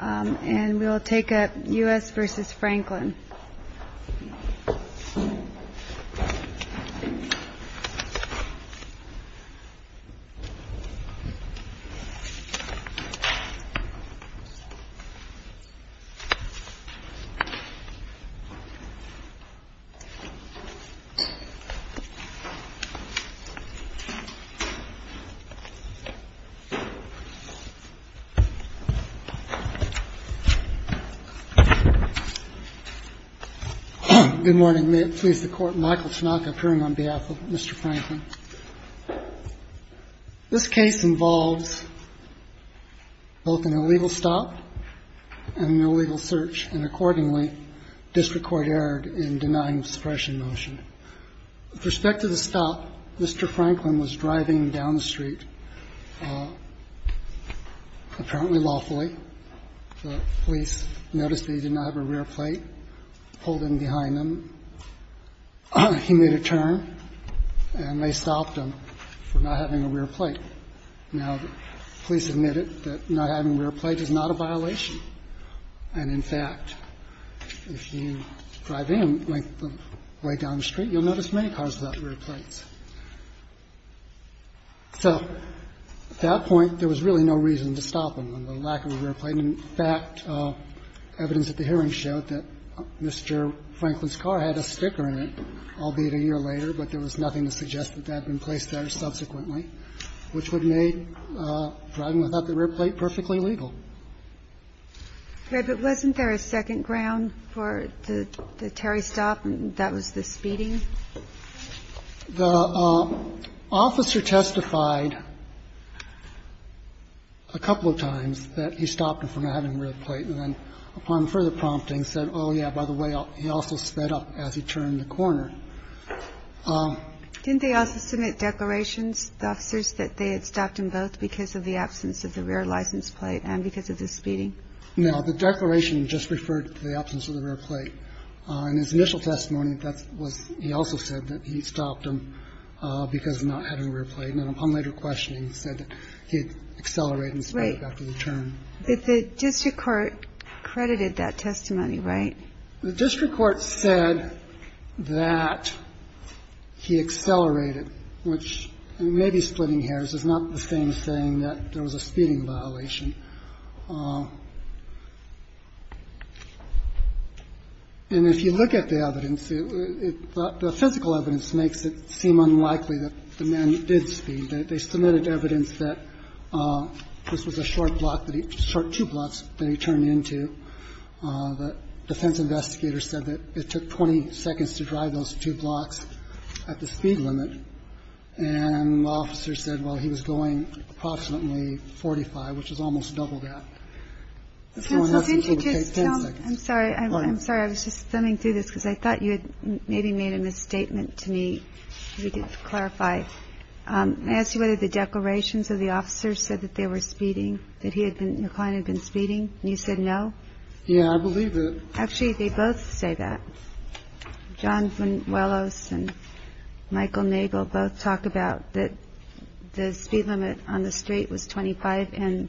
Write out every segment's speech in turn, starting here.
And we will take up U.S. v. Franklin. Good morning. May it please the Court, Michael Tanaka appearing on behalf of Mr. Franklin. This case involves both an illegal stop and an illegal search, and accordingly, district court erred in denying the suppression motion. With respect to the stop, Mr. Franklin was driving down the street apparently lawfully. The police noticed that he did not have a rear plate, pulled in behind him. He made a turn, and they stopped him for not having a rear plate. Now, the police admitted that not having a rear plate is not a violation. And, in fact, if you drive in way down the street, you'll notice many cars without rear plates. So at that point, there was really no reason to stop him on the lack of a rear plate. In fact, evidence at the hearing showed that Mr. Franklin's car had a sticker in it, albeit a year later. But there was nothing to suggest that that had been placed there subsequently, which would make driving without the rear plate perfectly legal. Okay. But wasn't there a second ground for the Terry stop, and that was the speeding? The officer testified a couple of times that he stopped him for not having a rear plate, and then upon further prompting said, oh, yeah, by the way, he also sped up as he turned the corner. Didn't they also submit declarations, the officers, that they had stopped him both because of the absence of the rear license plate and because of the speeding? No. The declaration just referred to the absence of the rear plate. In his initial testimony, he also said that he stopped him because of not having a rear plate. And then upon later questioning, he said that he had accelerated and sped up after the turn. The district court credited that testimony, right? The district court said that he accelerated, which maybe splitting hairs is not the same as saying that there was a speeding violation. And if you look at the evidence, the physical evidence makes it seem unlikely that the man did speed. They submitted evidence that this was a short block that he – short two blocks that he turned into. The defense investigator said that it took 20 seconds to drive those two blocks at the speed limit. And the officer said, well, he was going approximately 45, which is almost double that. I'm sorry. I'm sorry. I was just coming through this because I thought you had maybe made a misstatement to me. You didn't clarify. I asked you whether the declarations of the officers said that they were speeding, that he had been kind of been speeding. And you said no. Yeah, I believe that. Actually, they both say that. John Velos and Michael Nagel both talk about that. The speed limit on the street was 25 and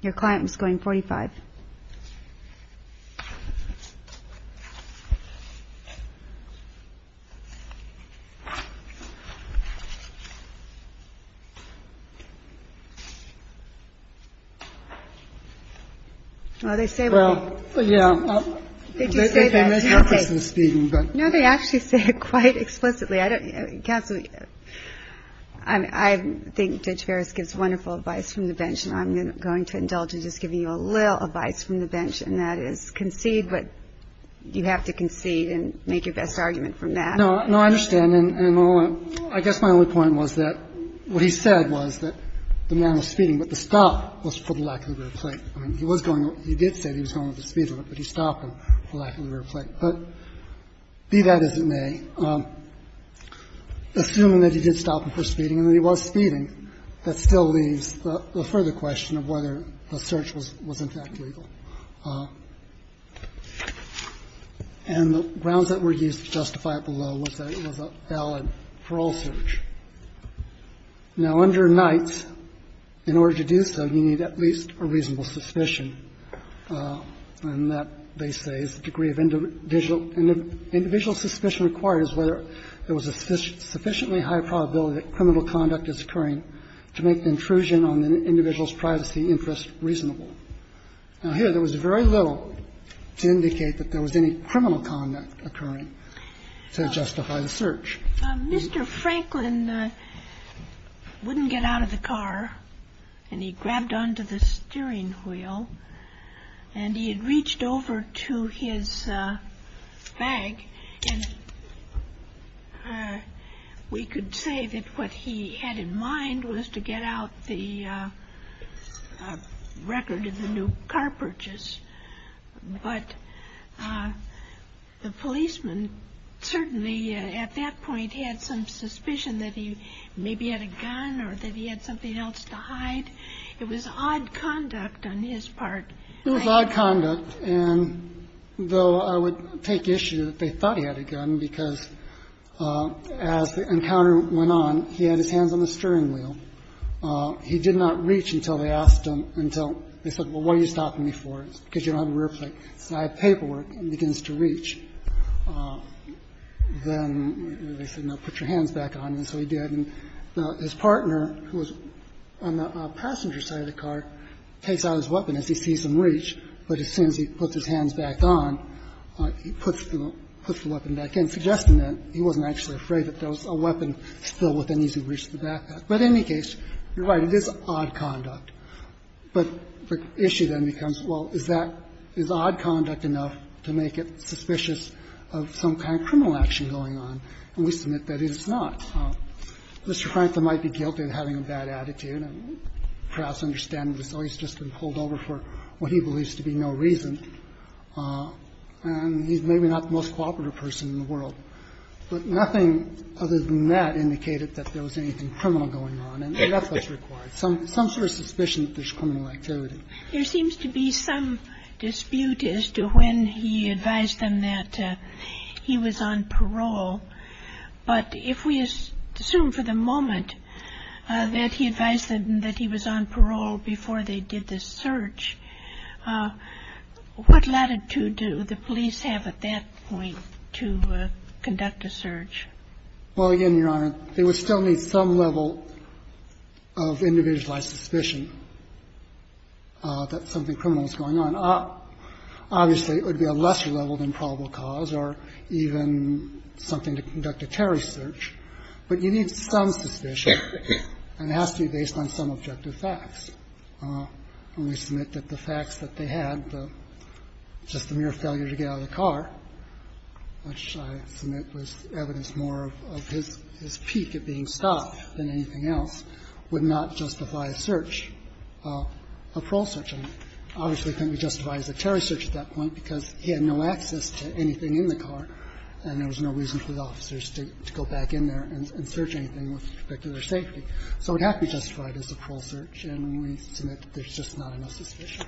your client was going 45. Well, they say that. They think they made him a person speeding, but. No, they actually say it quite explicitly. Counsel, I think Judge Ferris gives wonderful advice from the bench, and I'm going to indulge in just giving you a little advice from the bench, and that is concede, but you have to concede and make your best argument from that. No. No, I understand. And I guess my only point was that what he said was that the man was speeding, but the stop was for the lack of the rear plate. I mean, he was going, he did say he was going at the speed of it, but he stopped him for lack of the rear plate. But be that as it may, assuming that he did stop him for speeding and that he was speeding, that still leaves the further question of whether the search was in fact legal. And the grounds that were used to justify it below was that it was a valid parole search. Now, under Knights, in order to do so, you need at least a reasonable suspicion, and that, they say, is the degree of individual. Individual suspicion requires whether there was a sufficiently high probability that criminal conduct is occurring to make the intrusion on the individual's privacy interest reasonable. Now, here, there was very little to indicate that there was any criminal conduct occurring to justify the search. Mr. Franklin wouldn't get out of the car, and he grabbed onto the steering wheel, and he had reached over to his bag, and we could say that what he had in mind was to get out the record of the new car purchase. But the policeman certainly at that point had some suspicion that he maybe had a gun or that he had something else to hide. It was odd conduct on his part. It was odd conduct, and though I would take issue that they thought he had a gun, because as the encounter went on, he had his hands on the steering wheel. He did not reach until they asked him, until they said, well, why are you stopping me for? It's because you don't have a rear plate. He said, I have paperwork. He begins to reach. Then they said, no, put your hands back on. And so he did. And his partner, who was on the passenger side of the car, takes out his weapon as he sees him reach, but as soon as he puts his hands back on, he puts the weapon back in, suggesting that he wasn't actually afraid that there was a weapon still within ease of reach of the backpack. But in any case, you're right. It is odd conduct. But the issue then becomes, well, is that odd conduct enough to make it suspicious of some kind of criminal action going on? And we submit that it is not. Mr. Franklin might be guilty of having a bad attitude and perhaps understand that he's always just been pulled over for what he believes to be no reason. And he's maybe not the most cooperative person in the world. But nothing other than that indicated that there was anything criminal going on. And that's what's required, some sort of suspicion that there's criminal activity. There seems to be some dispute as to when he advised them that he was on parole. But if we assume for the moment that he advised them that he was on parole before they did this search, what latitude do the police have at that point to conduct a search? Well, again, Your Honor, they would still need some level of individualized suspicion that something criminal is going on. Obviously, it would be a lesser level than probable cause or even something to conduct a terrorist search. But you need some suspicion, and it has to be based on some objective facts. And we submit that the facts that they had, just the mere failure to get out of the car, which I submit was evidence more of his peak at being stopped than anything else, would not justify a search, a parole search. And obviously, it couldn't be justified as a terrorist search at that point because he had no access to anything in the car, and there was no reason for the officers to go back in there and search anything with particular safety. So it would have to be justified as a parole search. And we submit that there's just not enough suspicion.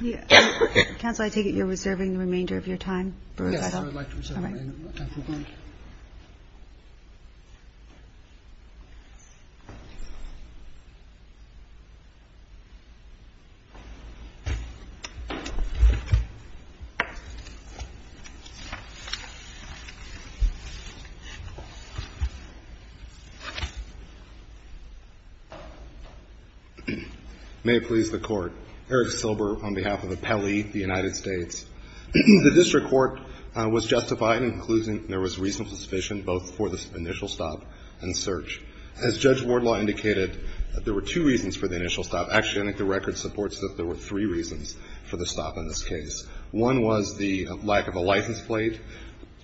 Kagan. May it please the Court. Eric Silber on behalf of Appelli, the United States. The district court was justified in concluding there was reasonable suspicion both for the initial stop and search. As Judge Wardlaw indicated, there were two reasons for the initial stop. Actually, I think the record supports that there were three reasons for the stop in this case. One was the lack of a license plate.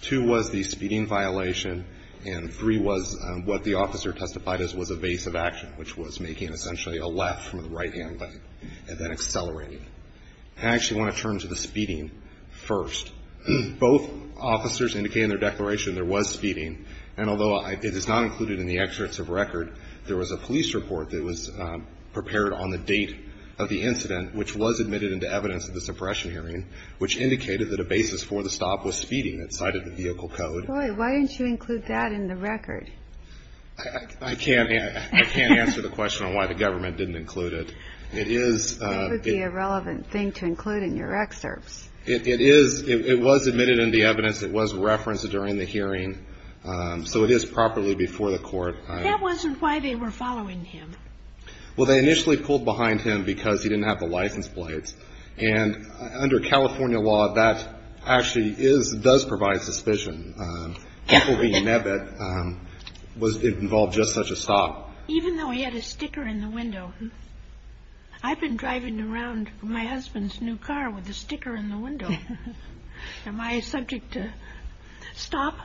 Two was the speeding violation. And three was what the officer testified as was evasive action, which was making essentially a left from the right-hand lane. And then accelerating. I actually want to turn to the speeding first. Both officers indicated in their declaration there was speeding. And although it is not included in the excerpts of record, there was a police report that was prepared on the date of the incident, which was admitted into evidence at the suppression hearing, which indicated that a basis for the stop was speeding. It cited the vehicle code. Boy, why didn't you include that in the record? I can't answer the question on why the government didn't include it. That would be a relevant thing to include in your excerpts. It is. It was admitted into evidence. It was referenced during the hearing. So it is properly before the court. That wasn't why they were following him. Well, they initially pulled behind him because he didn't have the license plates. And under California law, that actually does provide suspicion. It will be inevitable. It involved just such a stop. Even though he had a sticker in the window. I've been driving around my husband's new car with a sticker in the window. Am I subject to stop?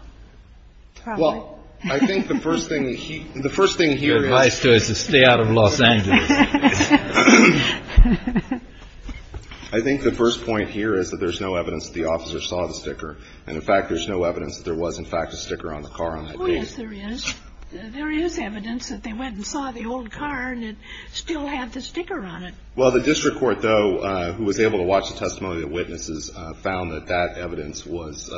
Well, I think the first thing he the first thing here is to stay out of Los Angeles. I think the first point here is that there's no evidence the officer saw the sticker. And in fact, there's no evidence there was, in fact, a sticker on the car. Oh, yes, there is. There is evidence that they went and saw the old car and it still had the sticker on it. Well, the district court, though, who was able to watch the testimony of witnesses, found that that evidence was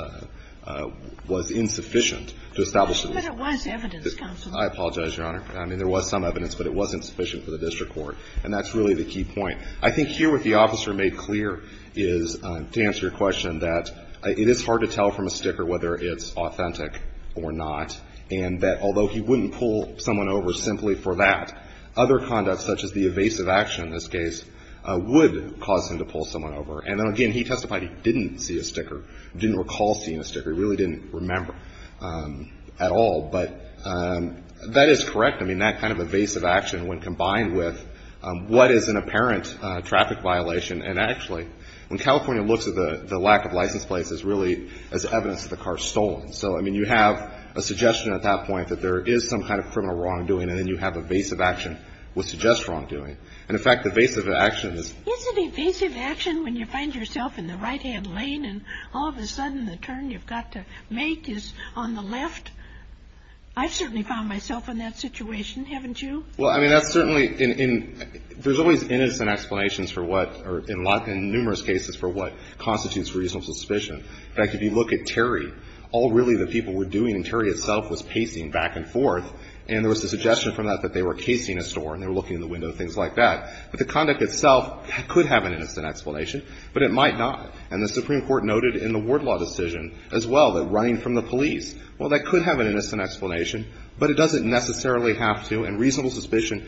insufficient to establish. But it was evidence, counsel. I apologize, Your Honor. I mean, there was some evidence, but it wasn't sufficient for the district court. And that's really the key point. I think here what the officer made clear is, to answer your question, that it is hard to tell from a sticker whether it's authentic or not, and that although he wouldn't pull someone over simply for that, other conduct such as the evasive action in this case would cause him to pull someone over. And then, again, he testified he didn't see a sticker, didn't recall seeing a sticker. He really didn't remember at all. But that is correct. I mean, that kind of evasive action when combined with what is an apparent traffic violation. And actually, when California looks at the lack of license plates, it's really as evidence that the car is stolen. So, I mean, you have a suggestion at that point that there is some kind of criminal wrongdoing, and then you have evasive action which suggests wrongdoing. And, in fact, evasive action is... Isn't evasive action when you find yourself in the right-hand lane and all of a sudden the turn you've got to make is on the left? I've certainly found myself in that situation. Haven't you? Well, I mean, that's certainly... I mean, there's always innocent explanations for what... in numerous cases for what constitutes reasonable suspicion. In fact, if you look at Terry, all really that people were doing in Terry itself was pacing back and forth, and there was a suggestion from that that they were casing a store and they were looking in the window and things like that. But the conduct itself could have an innocent explanation, but it might not. And the Supreme Court noted in the Ward Law decision as well that running from the police, well, that could have an innocent explanation, but it doesn't necessarily have to. And reasonable suspicion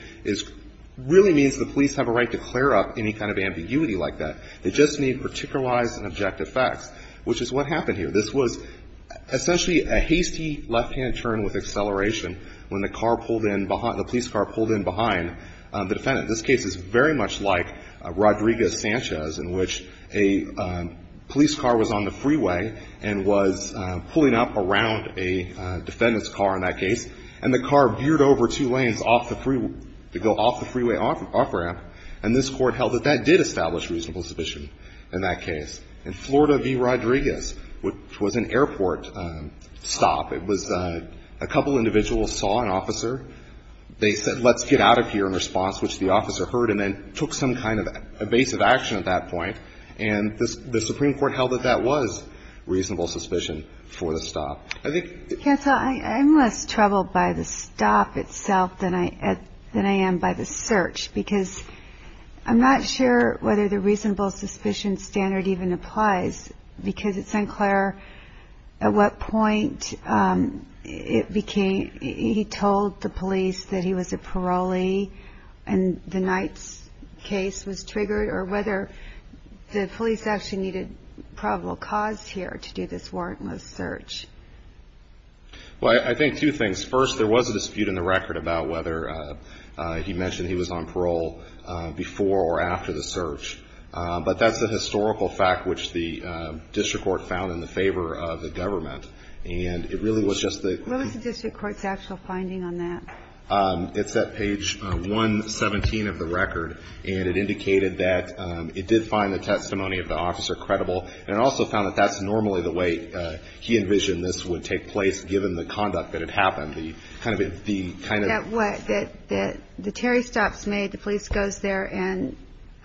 really means the police have a right to clear up any kind of ambiguity like that. They just need particularized and objective facts, which is what happened here. This was essentially a hasty left-hand turn with acceleration when the car pulled in behind... the police car pulled in behind the defendant. This case is very much like Rodriguez-Sanchez in which a police car was on the freeway and was pulling up around a defendant's car in that case, and the car veered over two lanes to go off the freeway off-ramp. And this Court held that that did establish reasonable suspicion in that case. In Florida v. Rodriguez, which was an airport stop, it was a couple individuals saw an officer. They said, let's get out of here in response, which the officer heard and then took some kind of evasive action at that point. And the Supreme Court held that that was reasonable suspicion for the stop. I'm less troubled by the stop itself than I am by the search because I'm not sure whether the reasonable suspicion standard even applies because at St. Clair, at what point he told the police that he was a parolee or whether the police actually needed probable cause here to do this warrantless search. Well, I think two things. First, there was a dispute in the record about whether he mentioned he was on parole before or after the search, but that's a historical fact which the district court found in the favor of the government. And it really was just the... What was the district court's actual finding on that? It's at page 117 of the record. And it indicated that it did find the testimony of the officer credible. And it also found that that's normally the way he envisioned this would take place, given the conduct that had happened, the kind of... That what? That the Terry stops me, the police goes there, and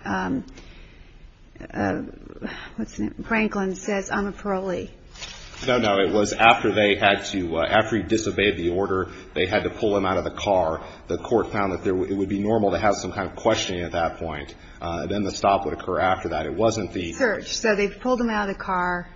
what's his name? Franklin says, I'm a parolee. No, no. It was after they had to... After he disobeyed the order, they had to pull him out of the car. The court found that it would be normal to have some kind of questioning at that point. Then the stop would occur after that. It wasn't the... Search. So they pulled him out of the car,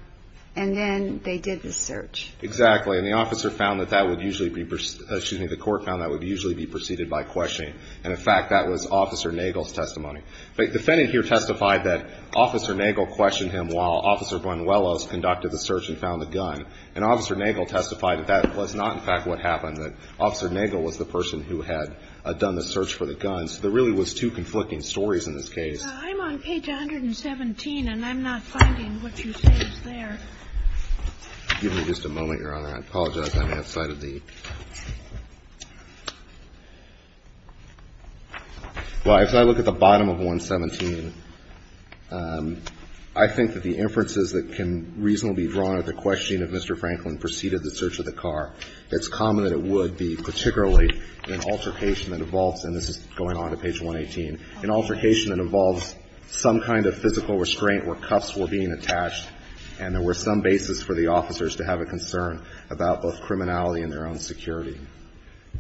and then they did the search. Exactly. And the officer found that that would usually be... Excuse me. The court found that would usually be preceded by questioning. And, in fact, that was Officer Nagel's testimony. The defendant here testified that Officer Nagel questioned him while Officer Buenuelos conducted the search and found the gun. And Officer Nagel testified that that was not, in fact, what happened, that Officer Nagel was the person who had done the search for the gun. So there really was two conflicting stories in this case. I'm on page 117, and I'm not finding what you say is there. Give me just a moment, Your Honor. I apologize. I may have cited the... I think that the inferences that can reasonably be drawn at the questioning of Mr. Franklin preceded the search of the car, it's common that it would be particularly an altercation that involves, and this is going on to page 118, an altercation that involves some kind of physical restraint where cuffs were being attached and there were some basis for the officers to have a concern about both criminality and their own security.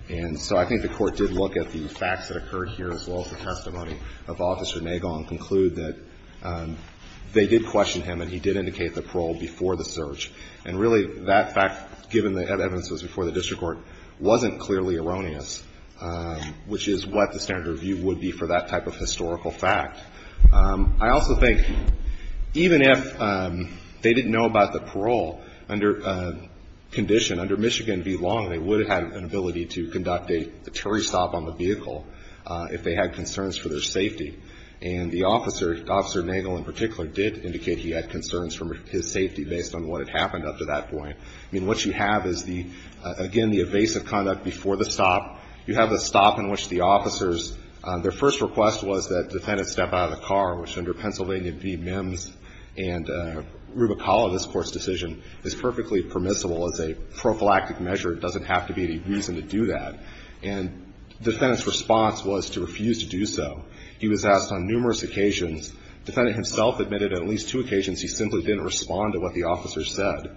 And so I think the Court did look at the facts that occurred here as well as the testimony of Officer Nagel and conclude that they did question him and he did indicate the parole before the search. And really that fact, given the evidence was before the district court, wasn't clearly erroneous, which is what the standard review would be for that type of historical fact. I also think even if they didn't know about the parole, under condition, under Michigan v. Long, they would have had an ability to conduct a Terry stop on the vehicle if they had concerns for their safety. And the officer, Officer Nagel in particular, did indicate he had concerns for his safety based on what had happened up to that point. I mean, what you have is the, again, the evasive conduct before the stop. You have a stop in which the officers, their first request was that defendants step out of the car, which under Pennsylvania v. Mims and Rubicola, this Court's decision, is perfectly permissible as a prophylactic measure. It doesn't have to be any reason to do that. And the defendant's response was to refuse to do so. He was asked on numerous occasions. The defendant himself admitted on at least two occasions he simply didn't respond to what the officer said.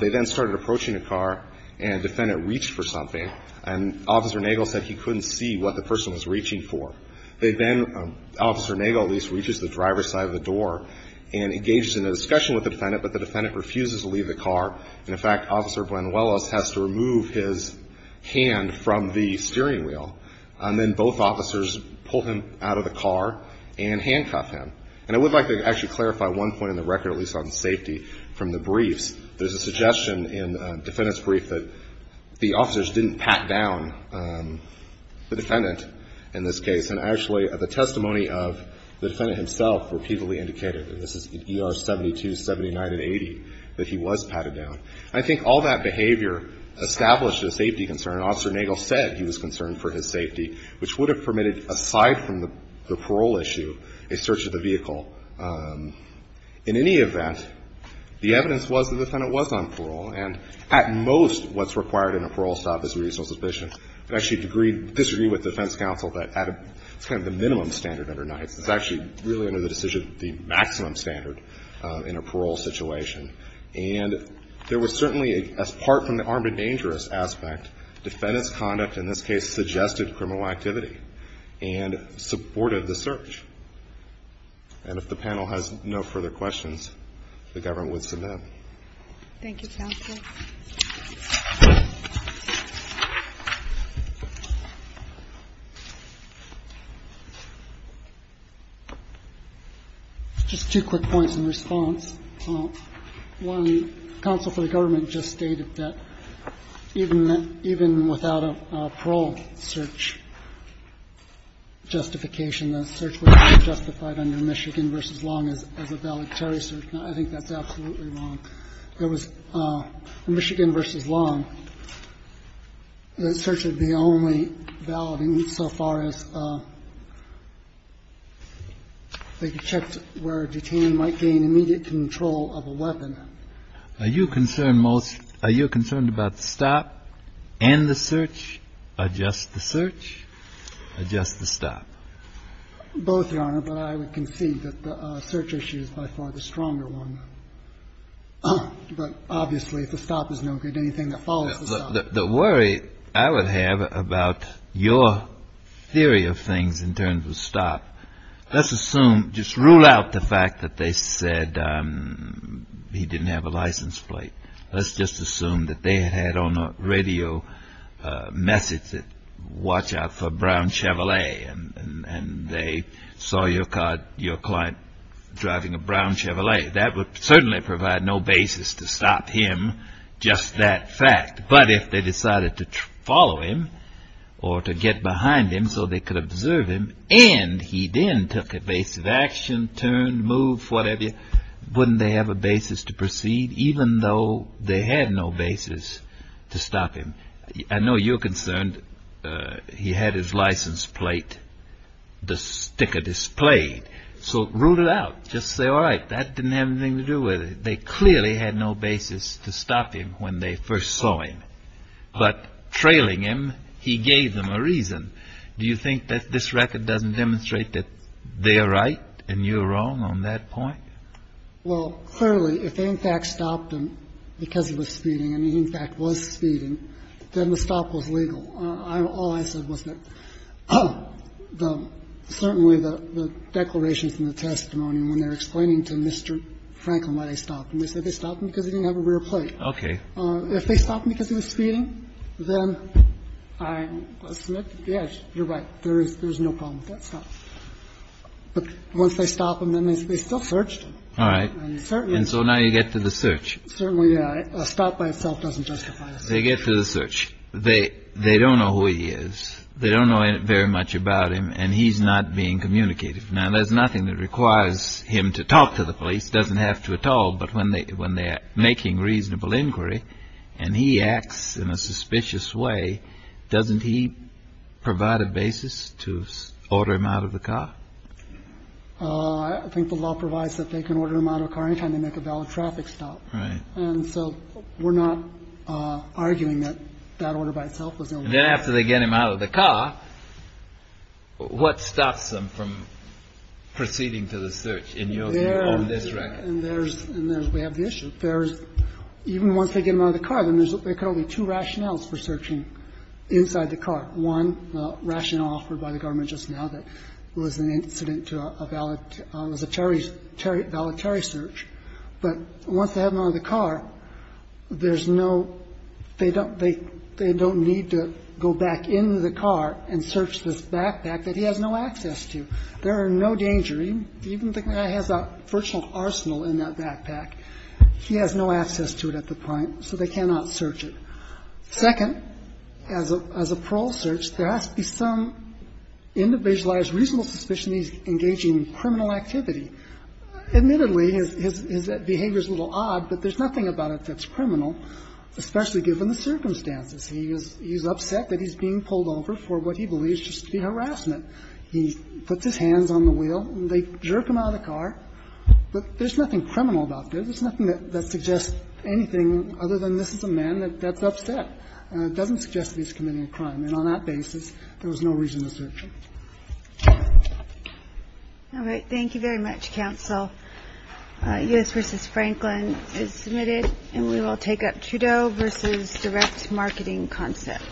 They then started approaching the car, and the defendant reached for something, and Officer Nagel said he couldn't see what the person was reaching for. They then, Officer Nagel at least, reaches the driver's side of the door and engages in a discussion with the defendant, but the defendant refuses to leave the car. And, in fact, Officer Buenuelos has to remove his hand from the steering wheel, and then both officers pull him out of the car and handcuff him. And I would like to actually clarify one point on the record, at least on safety, from the briefs. There's a suggestion in the defendant's brief that the officers didn't pat down the defendant in this case. And actually, the testimony of the defendant himself repeatedly indicated, and this is in ER 72, 79, and 80, that he was patted down. I think all that behavior established a safety concern. Officer Nagel said he was concerned for his safety, which would have permitted, aside from the parole issue, a search of the vehicle. In any event, the evidence was the defendant was on parole. And at most, what's required in a parole stop is a reasonable suspicion. I actually disagree with the defense counsel that at a kind of the minimum standard or not, it's actually really under the decision of the maximum standard in a parole situation. And there was certainly, apart from the armed and dangerous aspect, defendant's conduct in this case suggested criminal activity and supported the search. And if the panel has no further questions, the government would submit. Thank you, counsel. Just two quick points in response. One, counsel for the government just stated that even without a parole search justification, the search would be justified under Michigan v. Long as a valedictory search. I think that's absolutely wrong. There was a Michigan v. Long. The search would be only valid insofar as they checked where a detainee might gain immediate control of a weapon. Are you concerned most – are you concerned about the stop and the search, adjust the search, adjust the stop? Both, Your Honor, but I would concede that the search issue is by far the stronger one. But obviously, if the stop is no good, anything that follows the stop. The worry I would have about your theory of things in terms of stop, let's assume – just rule out the fact that they said he didn't have a license plate. Let's just assume that they had on a radio message that watch out for a brown Chevrolet and they saw your client driving a brown Chevrolet. That would certainly provide no basis to stop him, just that fact. But if they decided to follow him or to get behind him so they could observe him and he then took evasive action, turned, moved, whatever, wouldn't they have a basis to proceed even though they had no basis to stop him? I know you're concerned he had his license plate, the sticker displayed. So rule it out. Just say, all right, that didn't have anything to do with it. They clearly had no basis to stop him when they first saw him. But trailing him, he gave them a reason. Do you think that this record doesn't demonstrate that they are right and you are wrong on that point? Well, clearly, if they, in fact, stopped him because he was speeding and he, in fact, was speeding, then the stop was legal. All I said was that certainly the declarations in the testimony when they were explaining to Mr. Franklin why they stopped him, they said they stopped him because he didn't have a rear plate. Okay. If they stopped him because he was speeding, then I submit that, yes, you're right, there is no problem with that stop. But once they stop him, then they still searched. All right. And so now you get to the search. Certainly a stop by itself doesn't justify. They get to the search. They they don't know who he is. They don't know very much about him. And he's not being communicated. Now, there's nothing that requires him to talk to the police. Doesn't have to at all. But when they when they're making reasonable inquiry and he acts in a suspicious way, doesn't he provide a basis to order him out of the car? I think the law provides that they can order him out of the car any time they make a valid traffic stop. Right. And so we're not arguing that that order by itself was illegal. And then after they get him out of the car, what stops them from proceeding to the search? And you'll see on this record. And there's we have the issue. There's even once they get him out of the car, then there's only two rationales for searching inside the car. One rationale offered by the government just now that it was an incident to a valid it was a voluntary search. But once they have him out of the car, there's no they don't they they don't need to go back into the car and search this backpack that he has no access to. There are no danger. Even the guy has a personal arsenal in that backpack. He has no access to it at the point. So they cannot search it. Second, as a as a parole search, there has to be some individualized reasonable suspicion he's engaging in criminal activity. Admittedly, his behavior is a little odd, but there's nothing about it that's criminal, especially given the circumstances. He is he's upset that he's being pulled over for what he believes just to be harassment. He puts his hands on the wheel. They jerk him out of the car. But there's nothing criminal about this. There's nothing that suggests anything other than this is a man that that's upset. It doesn't suggest he's committing a crime. And on that basis, there was no reason to search. All right. Thank you very much. Counsel. Yes. Mrs. Franklin is submitted and we will take up Trudeau versus direct marketing concepts.